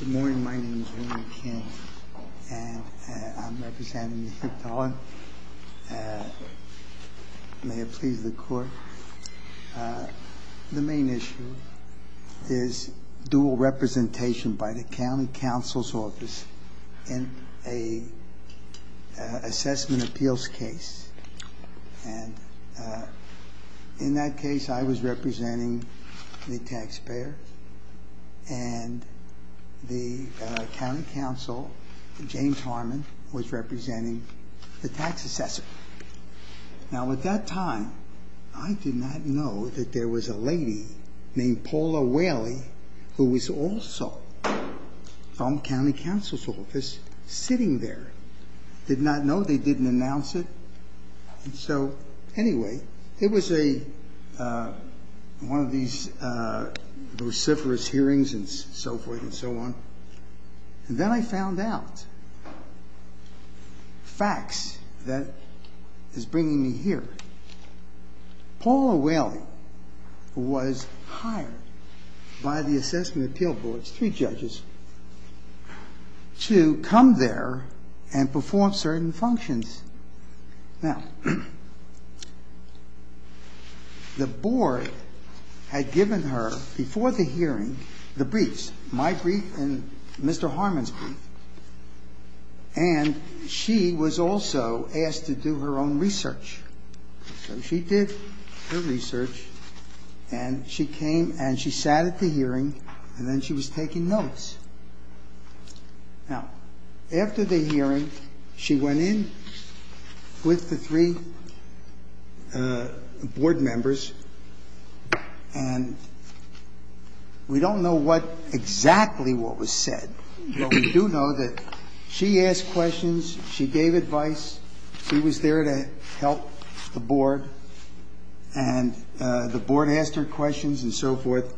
Good morning. My name is William Kent, and I'm representing Mr. Dolan. May it please the Court. The main issue is dual representation by the County Council's Office in a assessment appeals case. In that case, I was representing the taxpayer, and the County Council, James Harmon, was representing the tax assessor. Now, at that time, I did not know that there was a lady named Paula Whaley, who was also from the County Council's Office, sitting there. I did not know. They didn't announce it. And so, anyway, it was a, one of these vociferous hearings and so forth and so on. And then I found out facts that is bringing me here. Paula Whaley was hired by the Assessment and Appeal Board's three judges to come there and perform certain functions. Now, the Board had given her, before the hearing, the briefs, my brief and Mr. Harmon's brief. And she was also asked to do her own research. So she did her research, and she came and she sat at the hearing, and then she was taking notes. Now, after the hearing, she went in with the three Board members, and we don't know what, exactly what was said. But we do know that she asked questions, she gave advice, she was there to help the Board, and the Board asked her questions and so forth.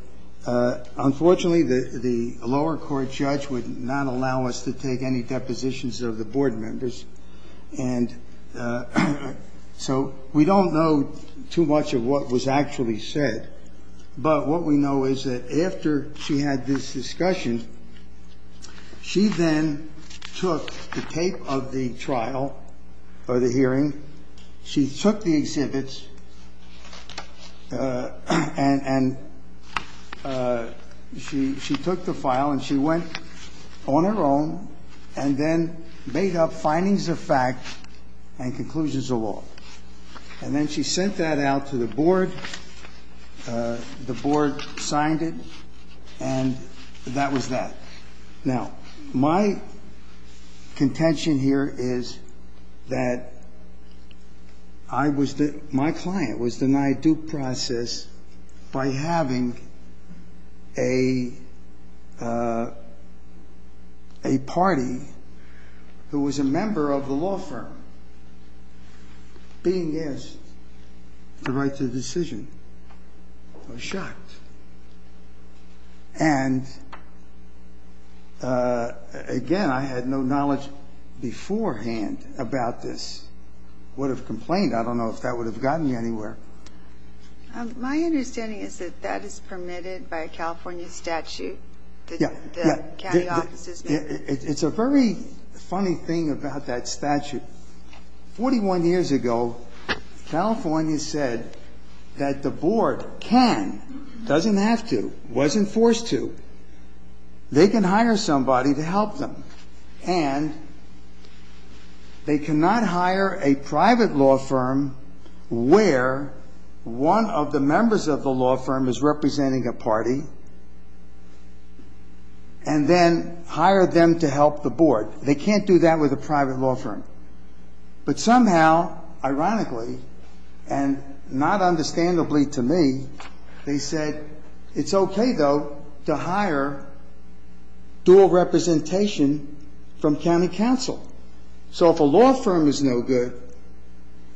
Unfortunately, the lower court, the Supreme Court, did not allow us to take any depositions of the Board members. And so, we don't know too much of what was actually said. But what we know is that after she had this discussion, she then took the tape of the trial, or the hearing, she took the exhibits and she took the file, and she went on her own, and then made up findings of fact and conclusions of law. And then she sent that out to the Board, the Board signed it, and that was that. Now, my contention here is that I was the, my client was denied due process by having a party who was a member of the law firm, being a member of the law firm. And I was shocked. And, again, I had no knowledge beforehand about this. Would have complained. I don't know if that would have gotten me anywhere. My understanding is that that is permitted by a California statute, that the county It's a very funny thing about that statute. 41 years ago, California said that the Board can, doesn't have to, wasn't forced to, they can hire somebody to help them. And they cannot hire a private law firm where one of the members of the law firm is representing a party, and then hire them to help the Board. They can't do that with a private law firm. But somehow, ironically, and not understandably to me, they said, it's okay, though, to hire dual representation from county counsel. So if a law firm is no good,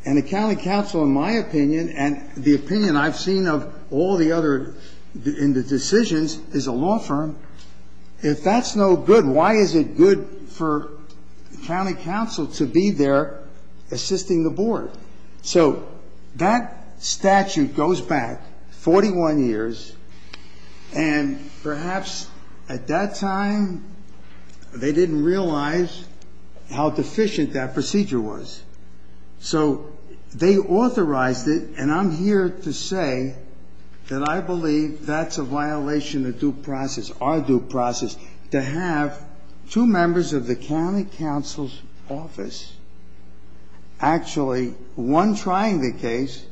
and a county counsel, in my opinion, and the opinion I've seen of all the other, in the decisions, is a law firm, if that's no good, why is it good for county counsel to be there assisting the Board? So that statute goes back 41 years, and perhaps at that time, they didn't realize how deficient that procedure was. So they authorized it, and I'm here to say that I believe that's a violation of due process, our due process, to have two members of the county counsel's office actually, one trying the case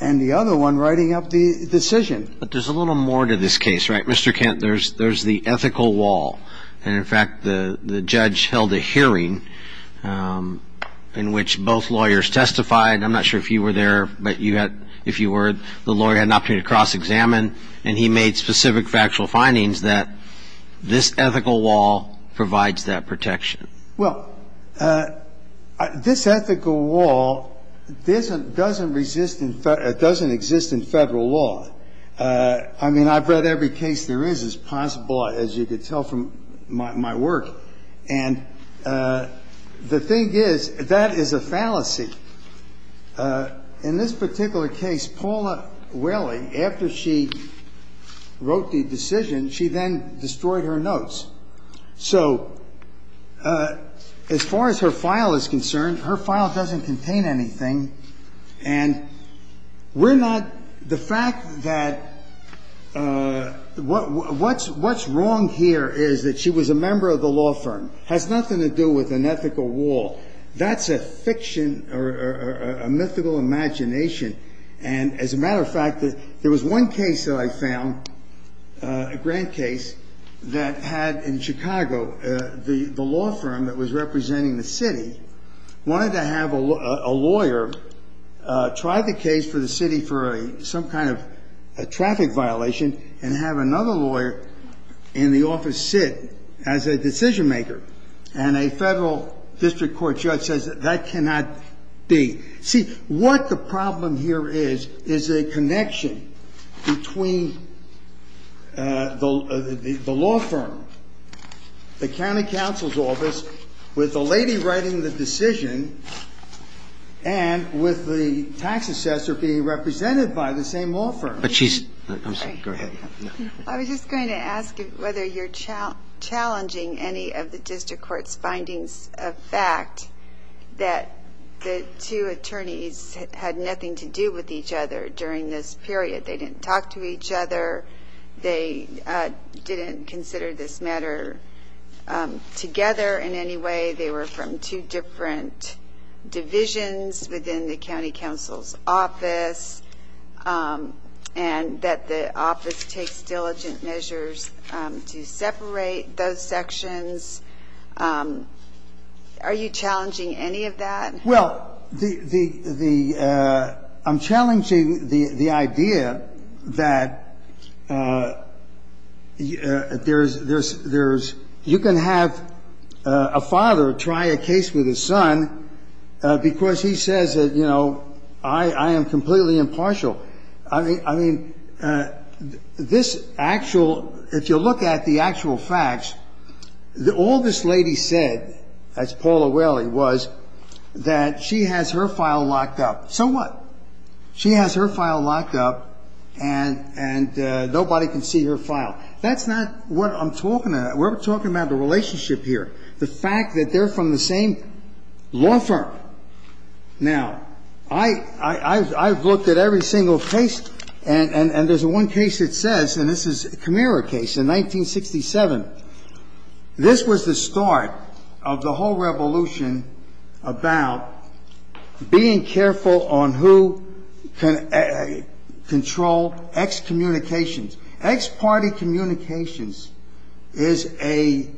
and the other one writing up the decision. But there's a little more to this case, right? Mr. Kent, there's the ethical wall. And in fact, the judge held a hearing in which both lawyers testified. I'm not sure if you were there, but if you were, the lawyer had an opportunity to cross-examine, and he made specific factual findings that this ethical wall provides that protection. Well, this ethical wall doesn't exist in Federal law. I mean, I've read every case there is. It's possible, as you can tell from my work. And the thing is, that is a fallacy. In this particular case, Paula Whaley, after she wrote the decision, she then destroyed her notes. So as far as her file is concerned, her file doesn't contain anything. And we're not the fact that what's wrong here is that she was a member of the law firm. It has nothing to do with an ethical wall. That's a fiction or a mythical imagination. And as a matter of fact, there was one case that I found, a grand case, that had in Chicago, the law firm that was representing the city wanted to have a lawyer try the case for the city for some kind of traffic violation and have another lawyer in the office sit as a decision maker. And a Federal District Court judge says that that cannot be. See, what the problem here is, is a connection between the law firm, the county counsel's office, with the lady writing the decision, and with the tax assessor being represented by the same law firm. But she's – I'm sorry. Go ahead. I was just going to ask whether you're challenging any of the District Court's findings of fact that the two attorneys had nothing to do with each other during this period. They didn't talk to each other. They didn't consider this matter together in any way. They were from two different divisions within the county counsel's office. And that the office takes diligent measures to separate those sections. Are you challenging any of that? Well, the – I'm challenging the idea that there's – you can have a father try a case with his son because he says that, you know, I am completely impartial. I mean, this actual – if you look at the actual facts, all this lady said, as Paul O'Reilly was, that she has her file locked up. So what? She has her file locked up and nobody can see her file. That's not what I'm talking about. We're talking about the relationship here. The fact that they're from the same law firm. Now, I've looked at every single case, and there's one case that says – and this is a Camara case in 1967. This was the start of the whole revolution about being careful on who can control excommunications. Ex-party communications is a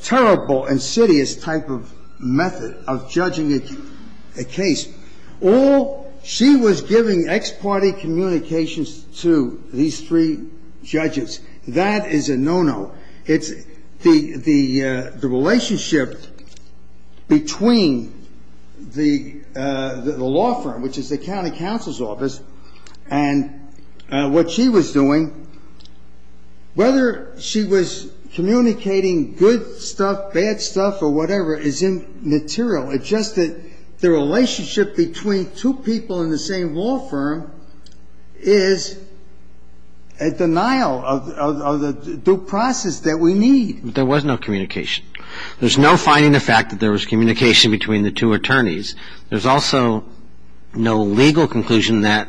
terrible, insidious type of method of judging a case. All – she was giving ex-party communications to these three judges. That is a no-no. It's – the relationship between the law firm, which is the county counsel's office, and what she was doing, whether she was communicating good stuff, bad stuff, or whatever, is immaterial. It's just that the relationship between two people in the same law firm is a denial of the due process that we need. There was no communication. There's no finding of fact that there was communication between the two attorneys. There's also no legal conclusion that,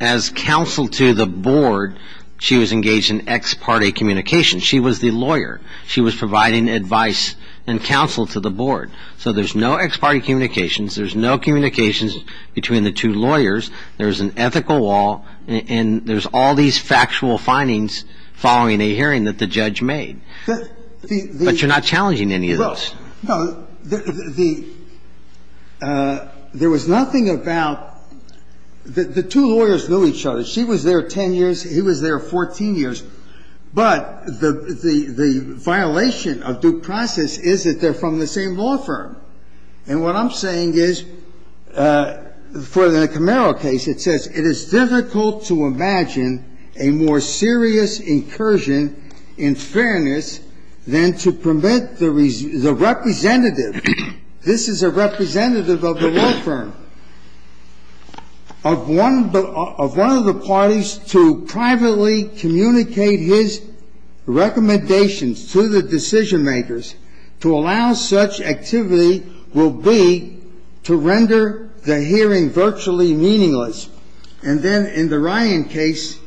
as counsel to the board, she was engaged in ex-party communications. She was the lawyer. She was providing advice and counsel to the board. So there's no ex-party communications. There's no communications between the two lawyers. There's an ethical wall. And there's all these factual findings following a hearing that the judge made. But you're not challenging any of those. No. The – there was nothing about – the two lawyers knew each other. She was there 10 years. He was there 14 years. But the violation of due process is that they're from the same law firm. And what I'm saying is, for the Camaro case, it says, it is difficult to imagine a more serious incursion in fairness than to permit the representative – this is a representative of the law firm – of one of the parties to privately communicate his recommendations to the decision-makers to allow such activity will be to render the hearing virtually meaningless. And then, in the Ryan case,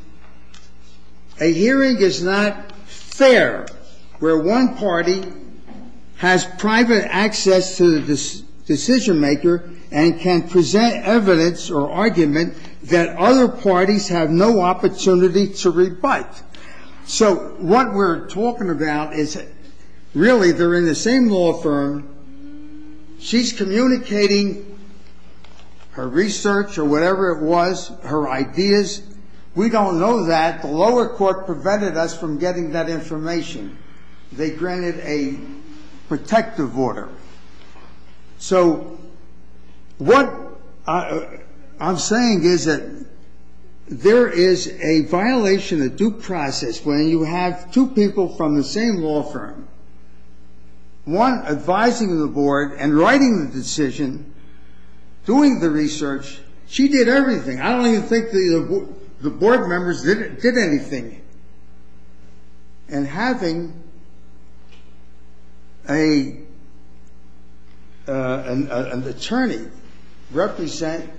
a hearing is not fair where one party has private access to the decision-maker and can present evidence or argument that other parties have no opportunity to rebut. So what we're talking about is, really, they're in the same law firm. She's communicating her research or whatever it was, her ideas. We don't know that. The lower court prevented us from getting that information. They granted a protective order. So what I'm saying is that there is a violation of due process when you have two people from the same law firm, one advising the board and writing the decision, doing the research. She did everything. I don't even think the board members did anything. And having a lawyer, an attorney, represent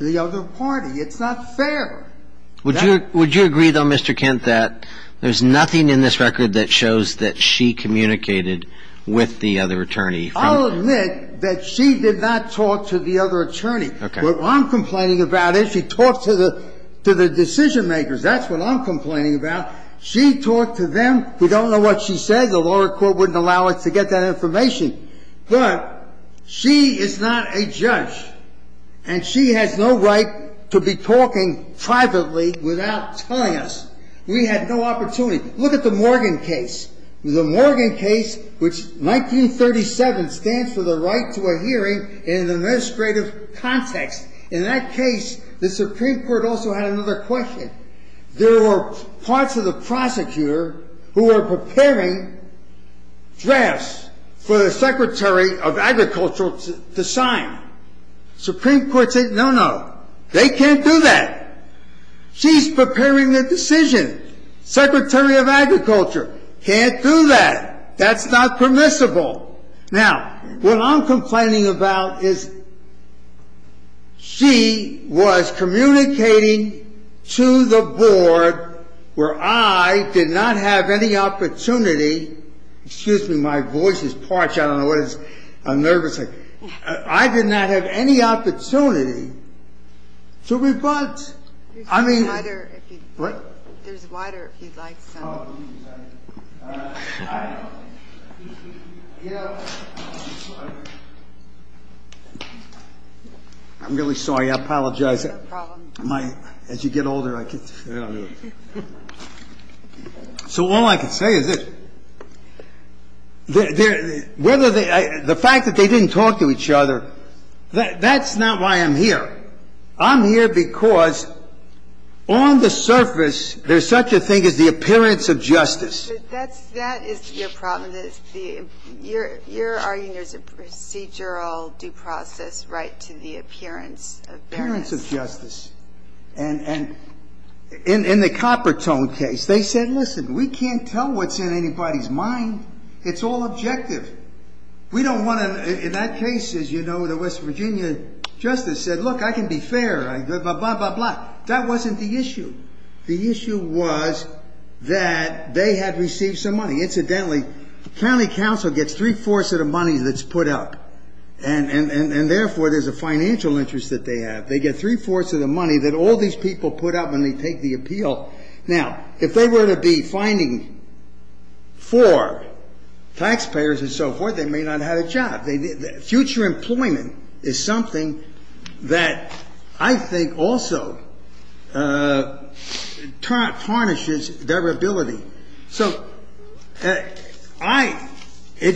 the other party, it's not fair. Would you agree, though, Mr. Kent, that there's nothing in this record that shows that she communicated with the other attorney? I'll admit that she did not talk to the other attorney. Okay. What I'm complaining about is she talked to the decision-makers. That's what I'm complaining about. She talked to them. We don't know what she said. The lower court wouldn't allow us to get that information. But she is not a judge. And she has no right to be talking privately without telling us. We had no opportunity. Look at the Morgan case. The Morgan case, which 1937 stands for the right to a hearing in an administrative context. In that case, the Supreme Court also had another question. There were parts of the prosecutor who were preparing drafts for the Secretary of Agriculture to sign. Supreme Court said, no, no. They can't do that. She's preparing the decision. Secretary of Agriculture can't do that. That's not permissible. Now, what I'm complaining about is she was communicating to the board where I did not have any opportunity Excuse me. My voice is parched. I don't know what it is. I'm nervous. I did not have any opportunity to rebut. I'm really sorry. I apologize. As you get older, I get. So all I can say is that whether the fact that they didn't talk to each other, that's not why I'm here. I'm here because on the surface, there's such a thing as the appearance of justice. That is your problem. Your argument is a procedural due process right to the appearance of justice. And in the Coppertone case, they said, listen, we can't tell what's in anybody's mind. It's all objective. We don't want to. In that case, as you know, the West Virginia justice said, look, I can be fair. That wasn't the issue. The issue was that they had received some money. Incidentally, the county council gets three fourths of the money that's put up. And therefore, there's a financial interest that they have. They get three fourths of the money that all these people put up when they take the appeal. Now, if they were to be finding for taxpayers and so forth, they may not have a job. Future employment is something that I think also tarnishes their ability. So if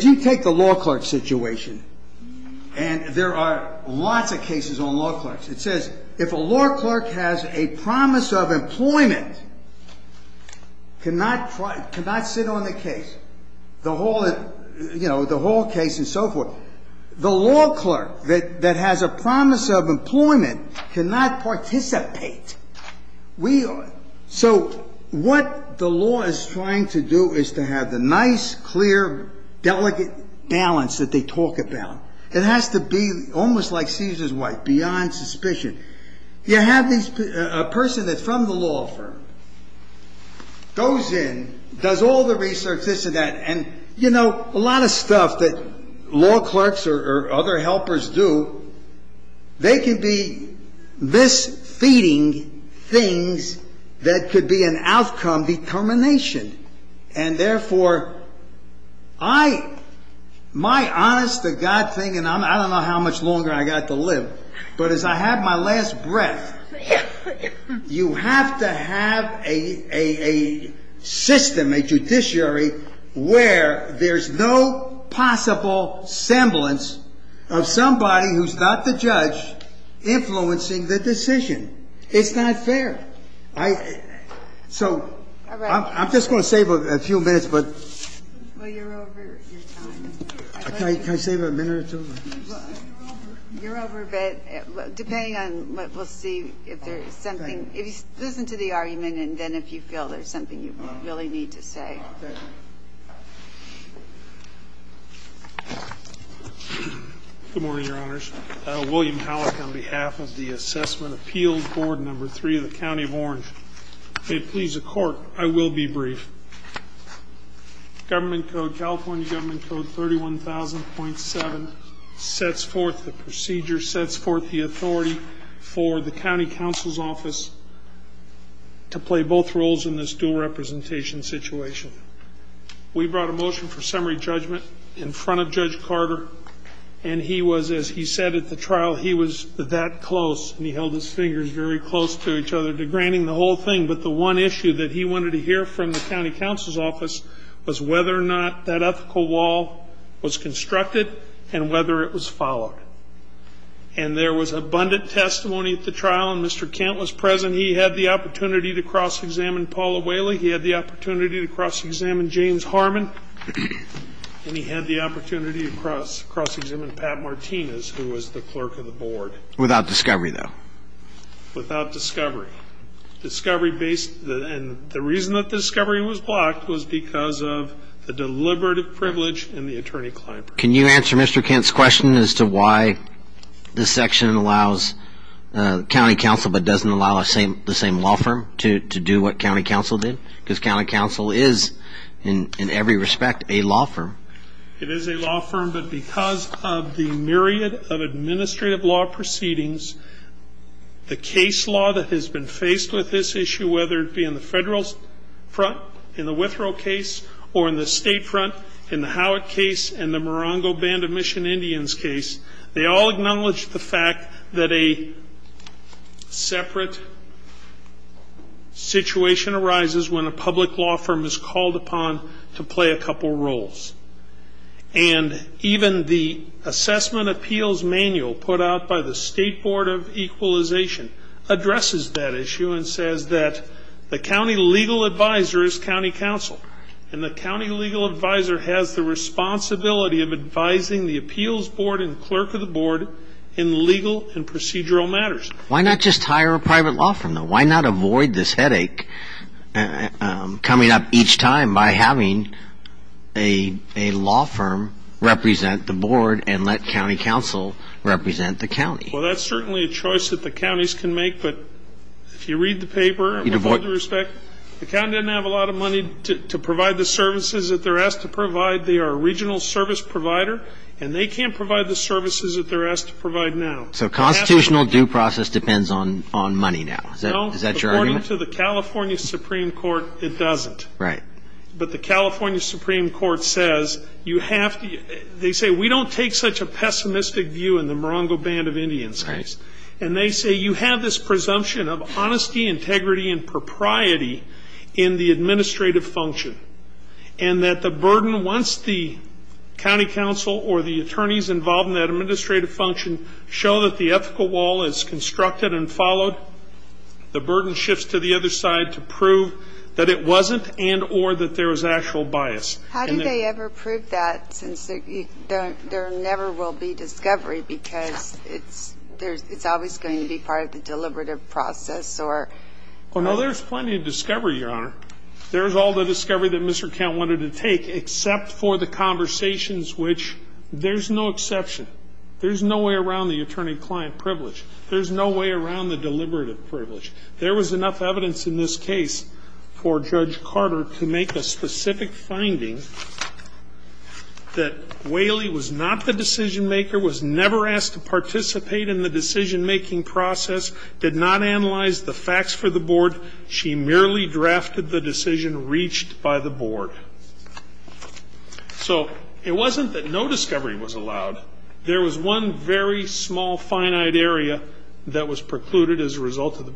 you take the law clerk situation, and there are lots of cases on law clerks. It says if a law clerk has a promise of employment, cannot sit on the case, the whole case and so forth. The law clerk that has a promise of employment cannot participate. So what the law is trying to do is to have the nice, clear, delicate balance that they talk about. It has to be almost like Caesar's wife, beyond suspicion. You have a person that's from the law firm, goes in, does all the research, this and that. And you know, a lot of stuff that law clerks or other helpers do, they can be this feeding things that could be an outcome determination. And therefore, I, my honest to God thing, and I don't know how much longer I got to live, but as I have my last breath, you have to have a system, a judiciary, where there's no possible semblance of somebody who's not the judge influencing the decision. It's not fair. I, so I'm just going to save a few minutes, but. Can I save a minute or two? You're over, but depending on what we'll see, if there's something, if you listen to the argument and then if you feel there's something you really need to say. Good morning, Your Honors. William Hallock on behalf of the Assessment Appeals Board, number three of the County of Orange. If it pleases the Court, I will be brief. Government Code, California Government Code 31,000.7 sets forth the procedure, sets forth the authority for the County Counsel's Office to play both roles in this dual representation situation. We brought a motion for summary judgment in front of Judge Carter, and he was, as he said at the trial, he was that close, and he held his fingers very close to each other, degrading the whole thing. But the one issue that he wanted to hear from the County Counsel's Office was whether or not that ethical wall was constructed and whether it was followed. And there was abundant testimony at the trial, and Mr. Kent was present. He had the opportunity to cross-examine Paula Whaley. He had the opportunity to cross-examine James Harmon, and he had the opportunity to cross-examine Pat Martinez, who was the clerk of the board. Without discovery, though? Without discovery. Discovery based, and the reason that the discovery was blocked was because of the deliberative privilege in the attorney-client. Can you answer Mr. Kent's question as to why this section allows County Counsel but doesn't allow the same law firm to do what County Counsel did? Because County Counsel is, in every respect, a law firm. It is a law firm, but because of the myriad of administrative law proceedings, the case law that has been faced with this issue, whether it be in the federal front, in the Withrow case, or in the state front, in the Howitt case, and the Morongo Band of Mission Indians case, they all acknowledge the fact that a separate situation arises when a public law firm is called upon to play a couple roles. And even the assessment appeals manual put out by the State Board of Equalization addresses that issue and says that the county legal advisor is County Counsel, and the county legal advisor has the responsibility of advising the appeals board and clerk of the board in legal and procedural matters. Why not just hire a private law firm, though? Why not avoid this headache coming up each time by having a law firm represent the board and let County Counsel represent the county? Well, that's certainly a choice that the counties can make, but if you read the paper, in every respect, the county doesn't have a lot of money to provide the services that they're asked to provide. They are a regional service provider, and they can't provide the services that they're asked to provide now. So constitutional due process depends on money now. Is that your argument? According to the California Supreme Court, it doesn't. Right. But the California Supreme Court says you have to, they say we don't take such a pessimistic view in the Morongo Band of Indians case. And they say you have this presumption of honesty, integrity, and propriety in the administrative function. And that the burden, once the county counsel or the attorneys involved in that administrative function show that the ethical wall is constructed and followed, the burden shifts to the other side to prove that it wasn't and or that there was actual bias. How do they ever prove that since there never will be discovery because it's always going to be part of the deliberative process or? Oh, no, there's plenty of discovery, Your Honor. There's all the discovery that Mr. Count wanted to take except for the conversations which there's no exception. There's no way around the attorney-client privilege. There's no way around the deliberative privilege. There was enough evidence in this case for Judge Carter to make a specific finding that Whaley was not the decision maker, was never asked to participate in the decision making process, did not analyze the facts for the board. She merely drafted the decision reached by the board. So it wasn't that no discovery was allowed. There was one very small finite area that was precluded as a result of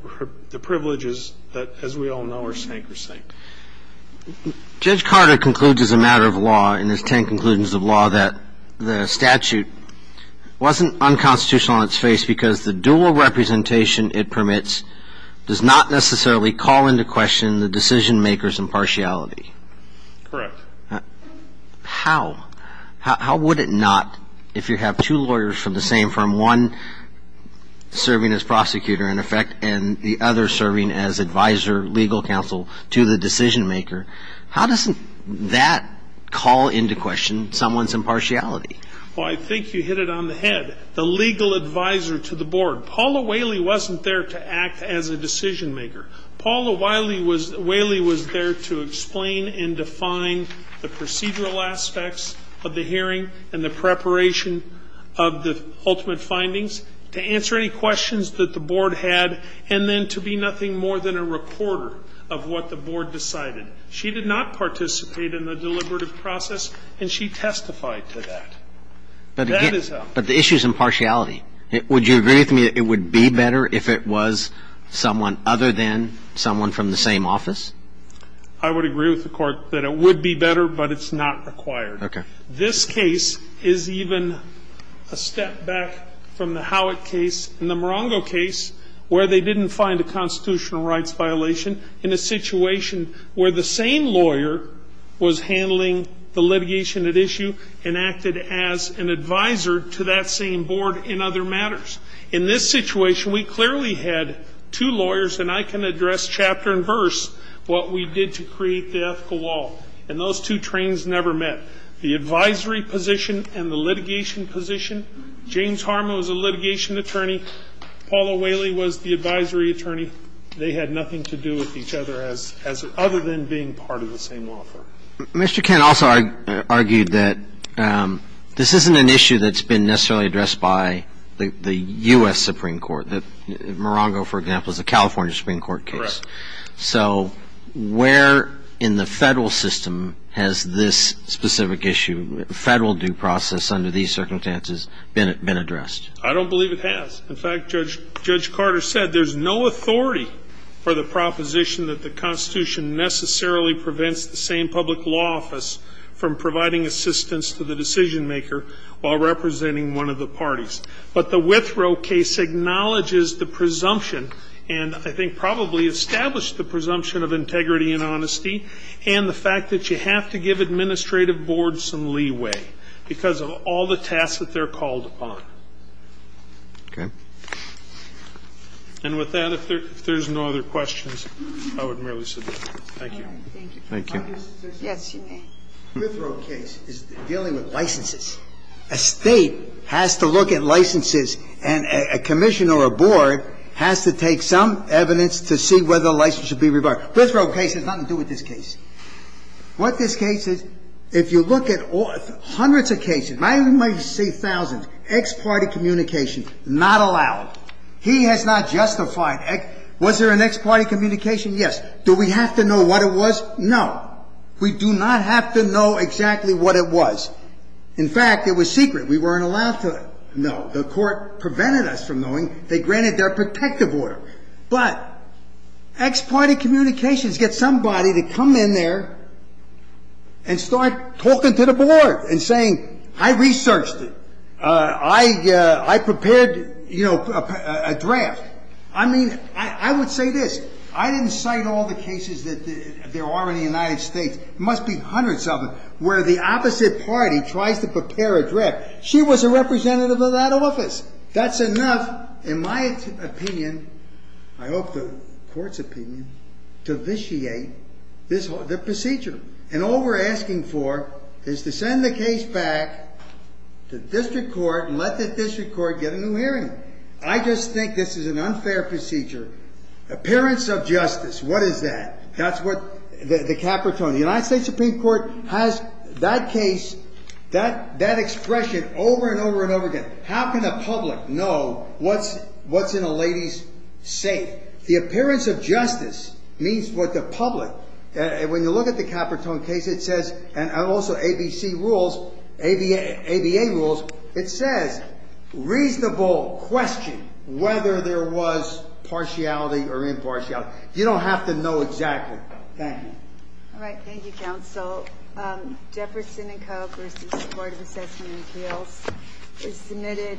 the privileges that, as we all know, are sank or sank. Judge Carter concludes as a matter of law, in his ten conclusions of law, that the statute wasn't unconstitutional on its face because the dual representation it permits does not necessarily call into question the decision maker's impartiality. Correct. How? How would it not, if you have two lawyers from the same firm, one serving as prosecutor, in effect, and the other serving as advisor, legal counsel, to the decision maker, how doesn't that call into question someone's impartiality? Well, I think you hit it on the head. The legal advisor to the board, Paula Whaley wasn't there to act as a decision maker. Paula Whaley was there to explain and define the procedural aspects of the hearing and the preparation of the ultimate findings, to answer any questions that the board had, and then to be nothing more than a recorder of what the board decided. She did not participate in the deliberative process, and she testified to that. That is how. But the issue is impartiality. Would you agree with me that it would be better if it was someone other than someone from the same office? I would agree with the Court that it would be better, but it's not required. Okay. This case is even a step back from the Howitt case and the Morongo case, where they didn't find a constitutional rights violation in a situation where the same lawyer was handling the litigation at issue and acted as an advisor to that same board in other matters. In this situation, we clearly had two lawyers, and I can address chapter and verse what we did to create the ethical wall, and those two trains never met. The advisory position and the litigation position, James Harmon was the litigation attorney, Paula Whaley was the advisory attorney. They had nothing to do with each other as other than being part of the same law firm. Mr. Kent also argued that this isn't an issue that's been necessarily addressed by the U.S. Supreme Court. The Morongo, for example, is a California Supreme Court case. Correct. So where in the Federal system has this specific issue, Federal due process under these circumstances, been addressed? I don't believe it has. In fact, Judge Carter said there's no authority for the proposition that the Constitution necessarily prevents the same public law office from providing assistance to the decision maker while representing one of the parties. But the Withrow case acknowledges the presumption, and I think probably established the presumption of integrity and honesty, and the fact that you have to give administrative board some leeway because of all the tasks that they're called upon. Okay. And with that, if there's no other questions, I would merely submit. Thank you. Thank you. Yes, you may. Withrow case is dealing with licenses. A State has to look at licenses, and a commissioner or a board has to take some evidence to see whether a license should be rebarred. Withrow case has nothing to do with this case. What this case is, if you look at hundreds of cases, you might even say thousands, ex parte communication, not allowed. He has not justified. Was there an ex parte communication? Yes. Do we have to know what it was? No. We do not have to know exactly what it was. In fact, it was secret. We weren't allowed to know. The Court prevented us from knowing. They granted their protective order. But ex parte communications gets somebody to come in there and start talking to the board and saying, I researched it. I prepared, you know, a draft. I mean, I would say this. I didn't cite all the cases that there are in the United States. There must be hundreds of them where the opposite party tries to prepare a draft. She was a representative of that office. That's enough, in my opinion, I hope the Court's opinion, to vitiate the procedure. And all we're asking for is to send the case back to district court and let the district court get a new hearing. I just think this is an unfair procedure. Appearance of justice, what is that? That's what the Capitone, the United States Supreme Court, has that case, that expression, over and over and over again. How can the public know what's in a lady's safe? The appearance of justice means what the public, and when you look at the Capitone case, it says, and also ABC rules, ABA rules, it says, reasonable question whether there was partiality or impartiality. You don't have to know exactly. Thank you. All right, thank you, counsel. Jefferson and Co versus the Board of Assessment and Appeals is submitted.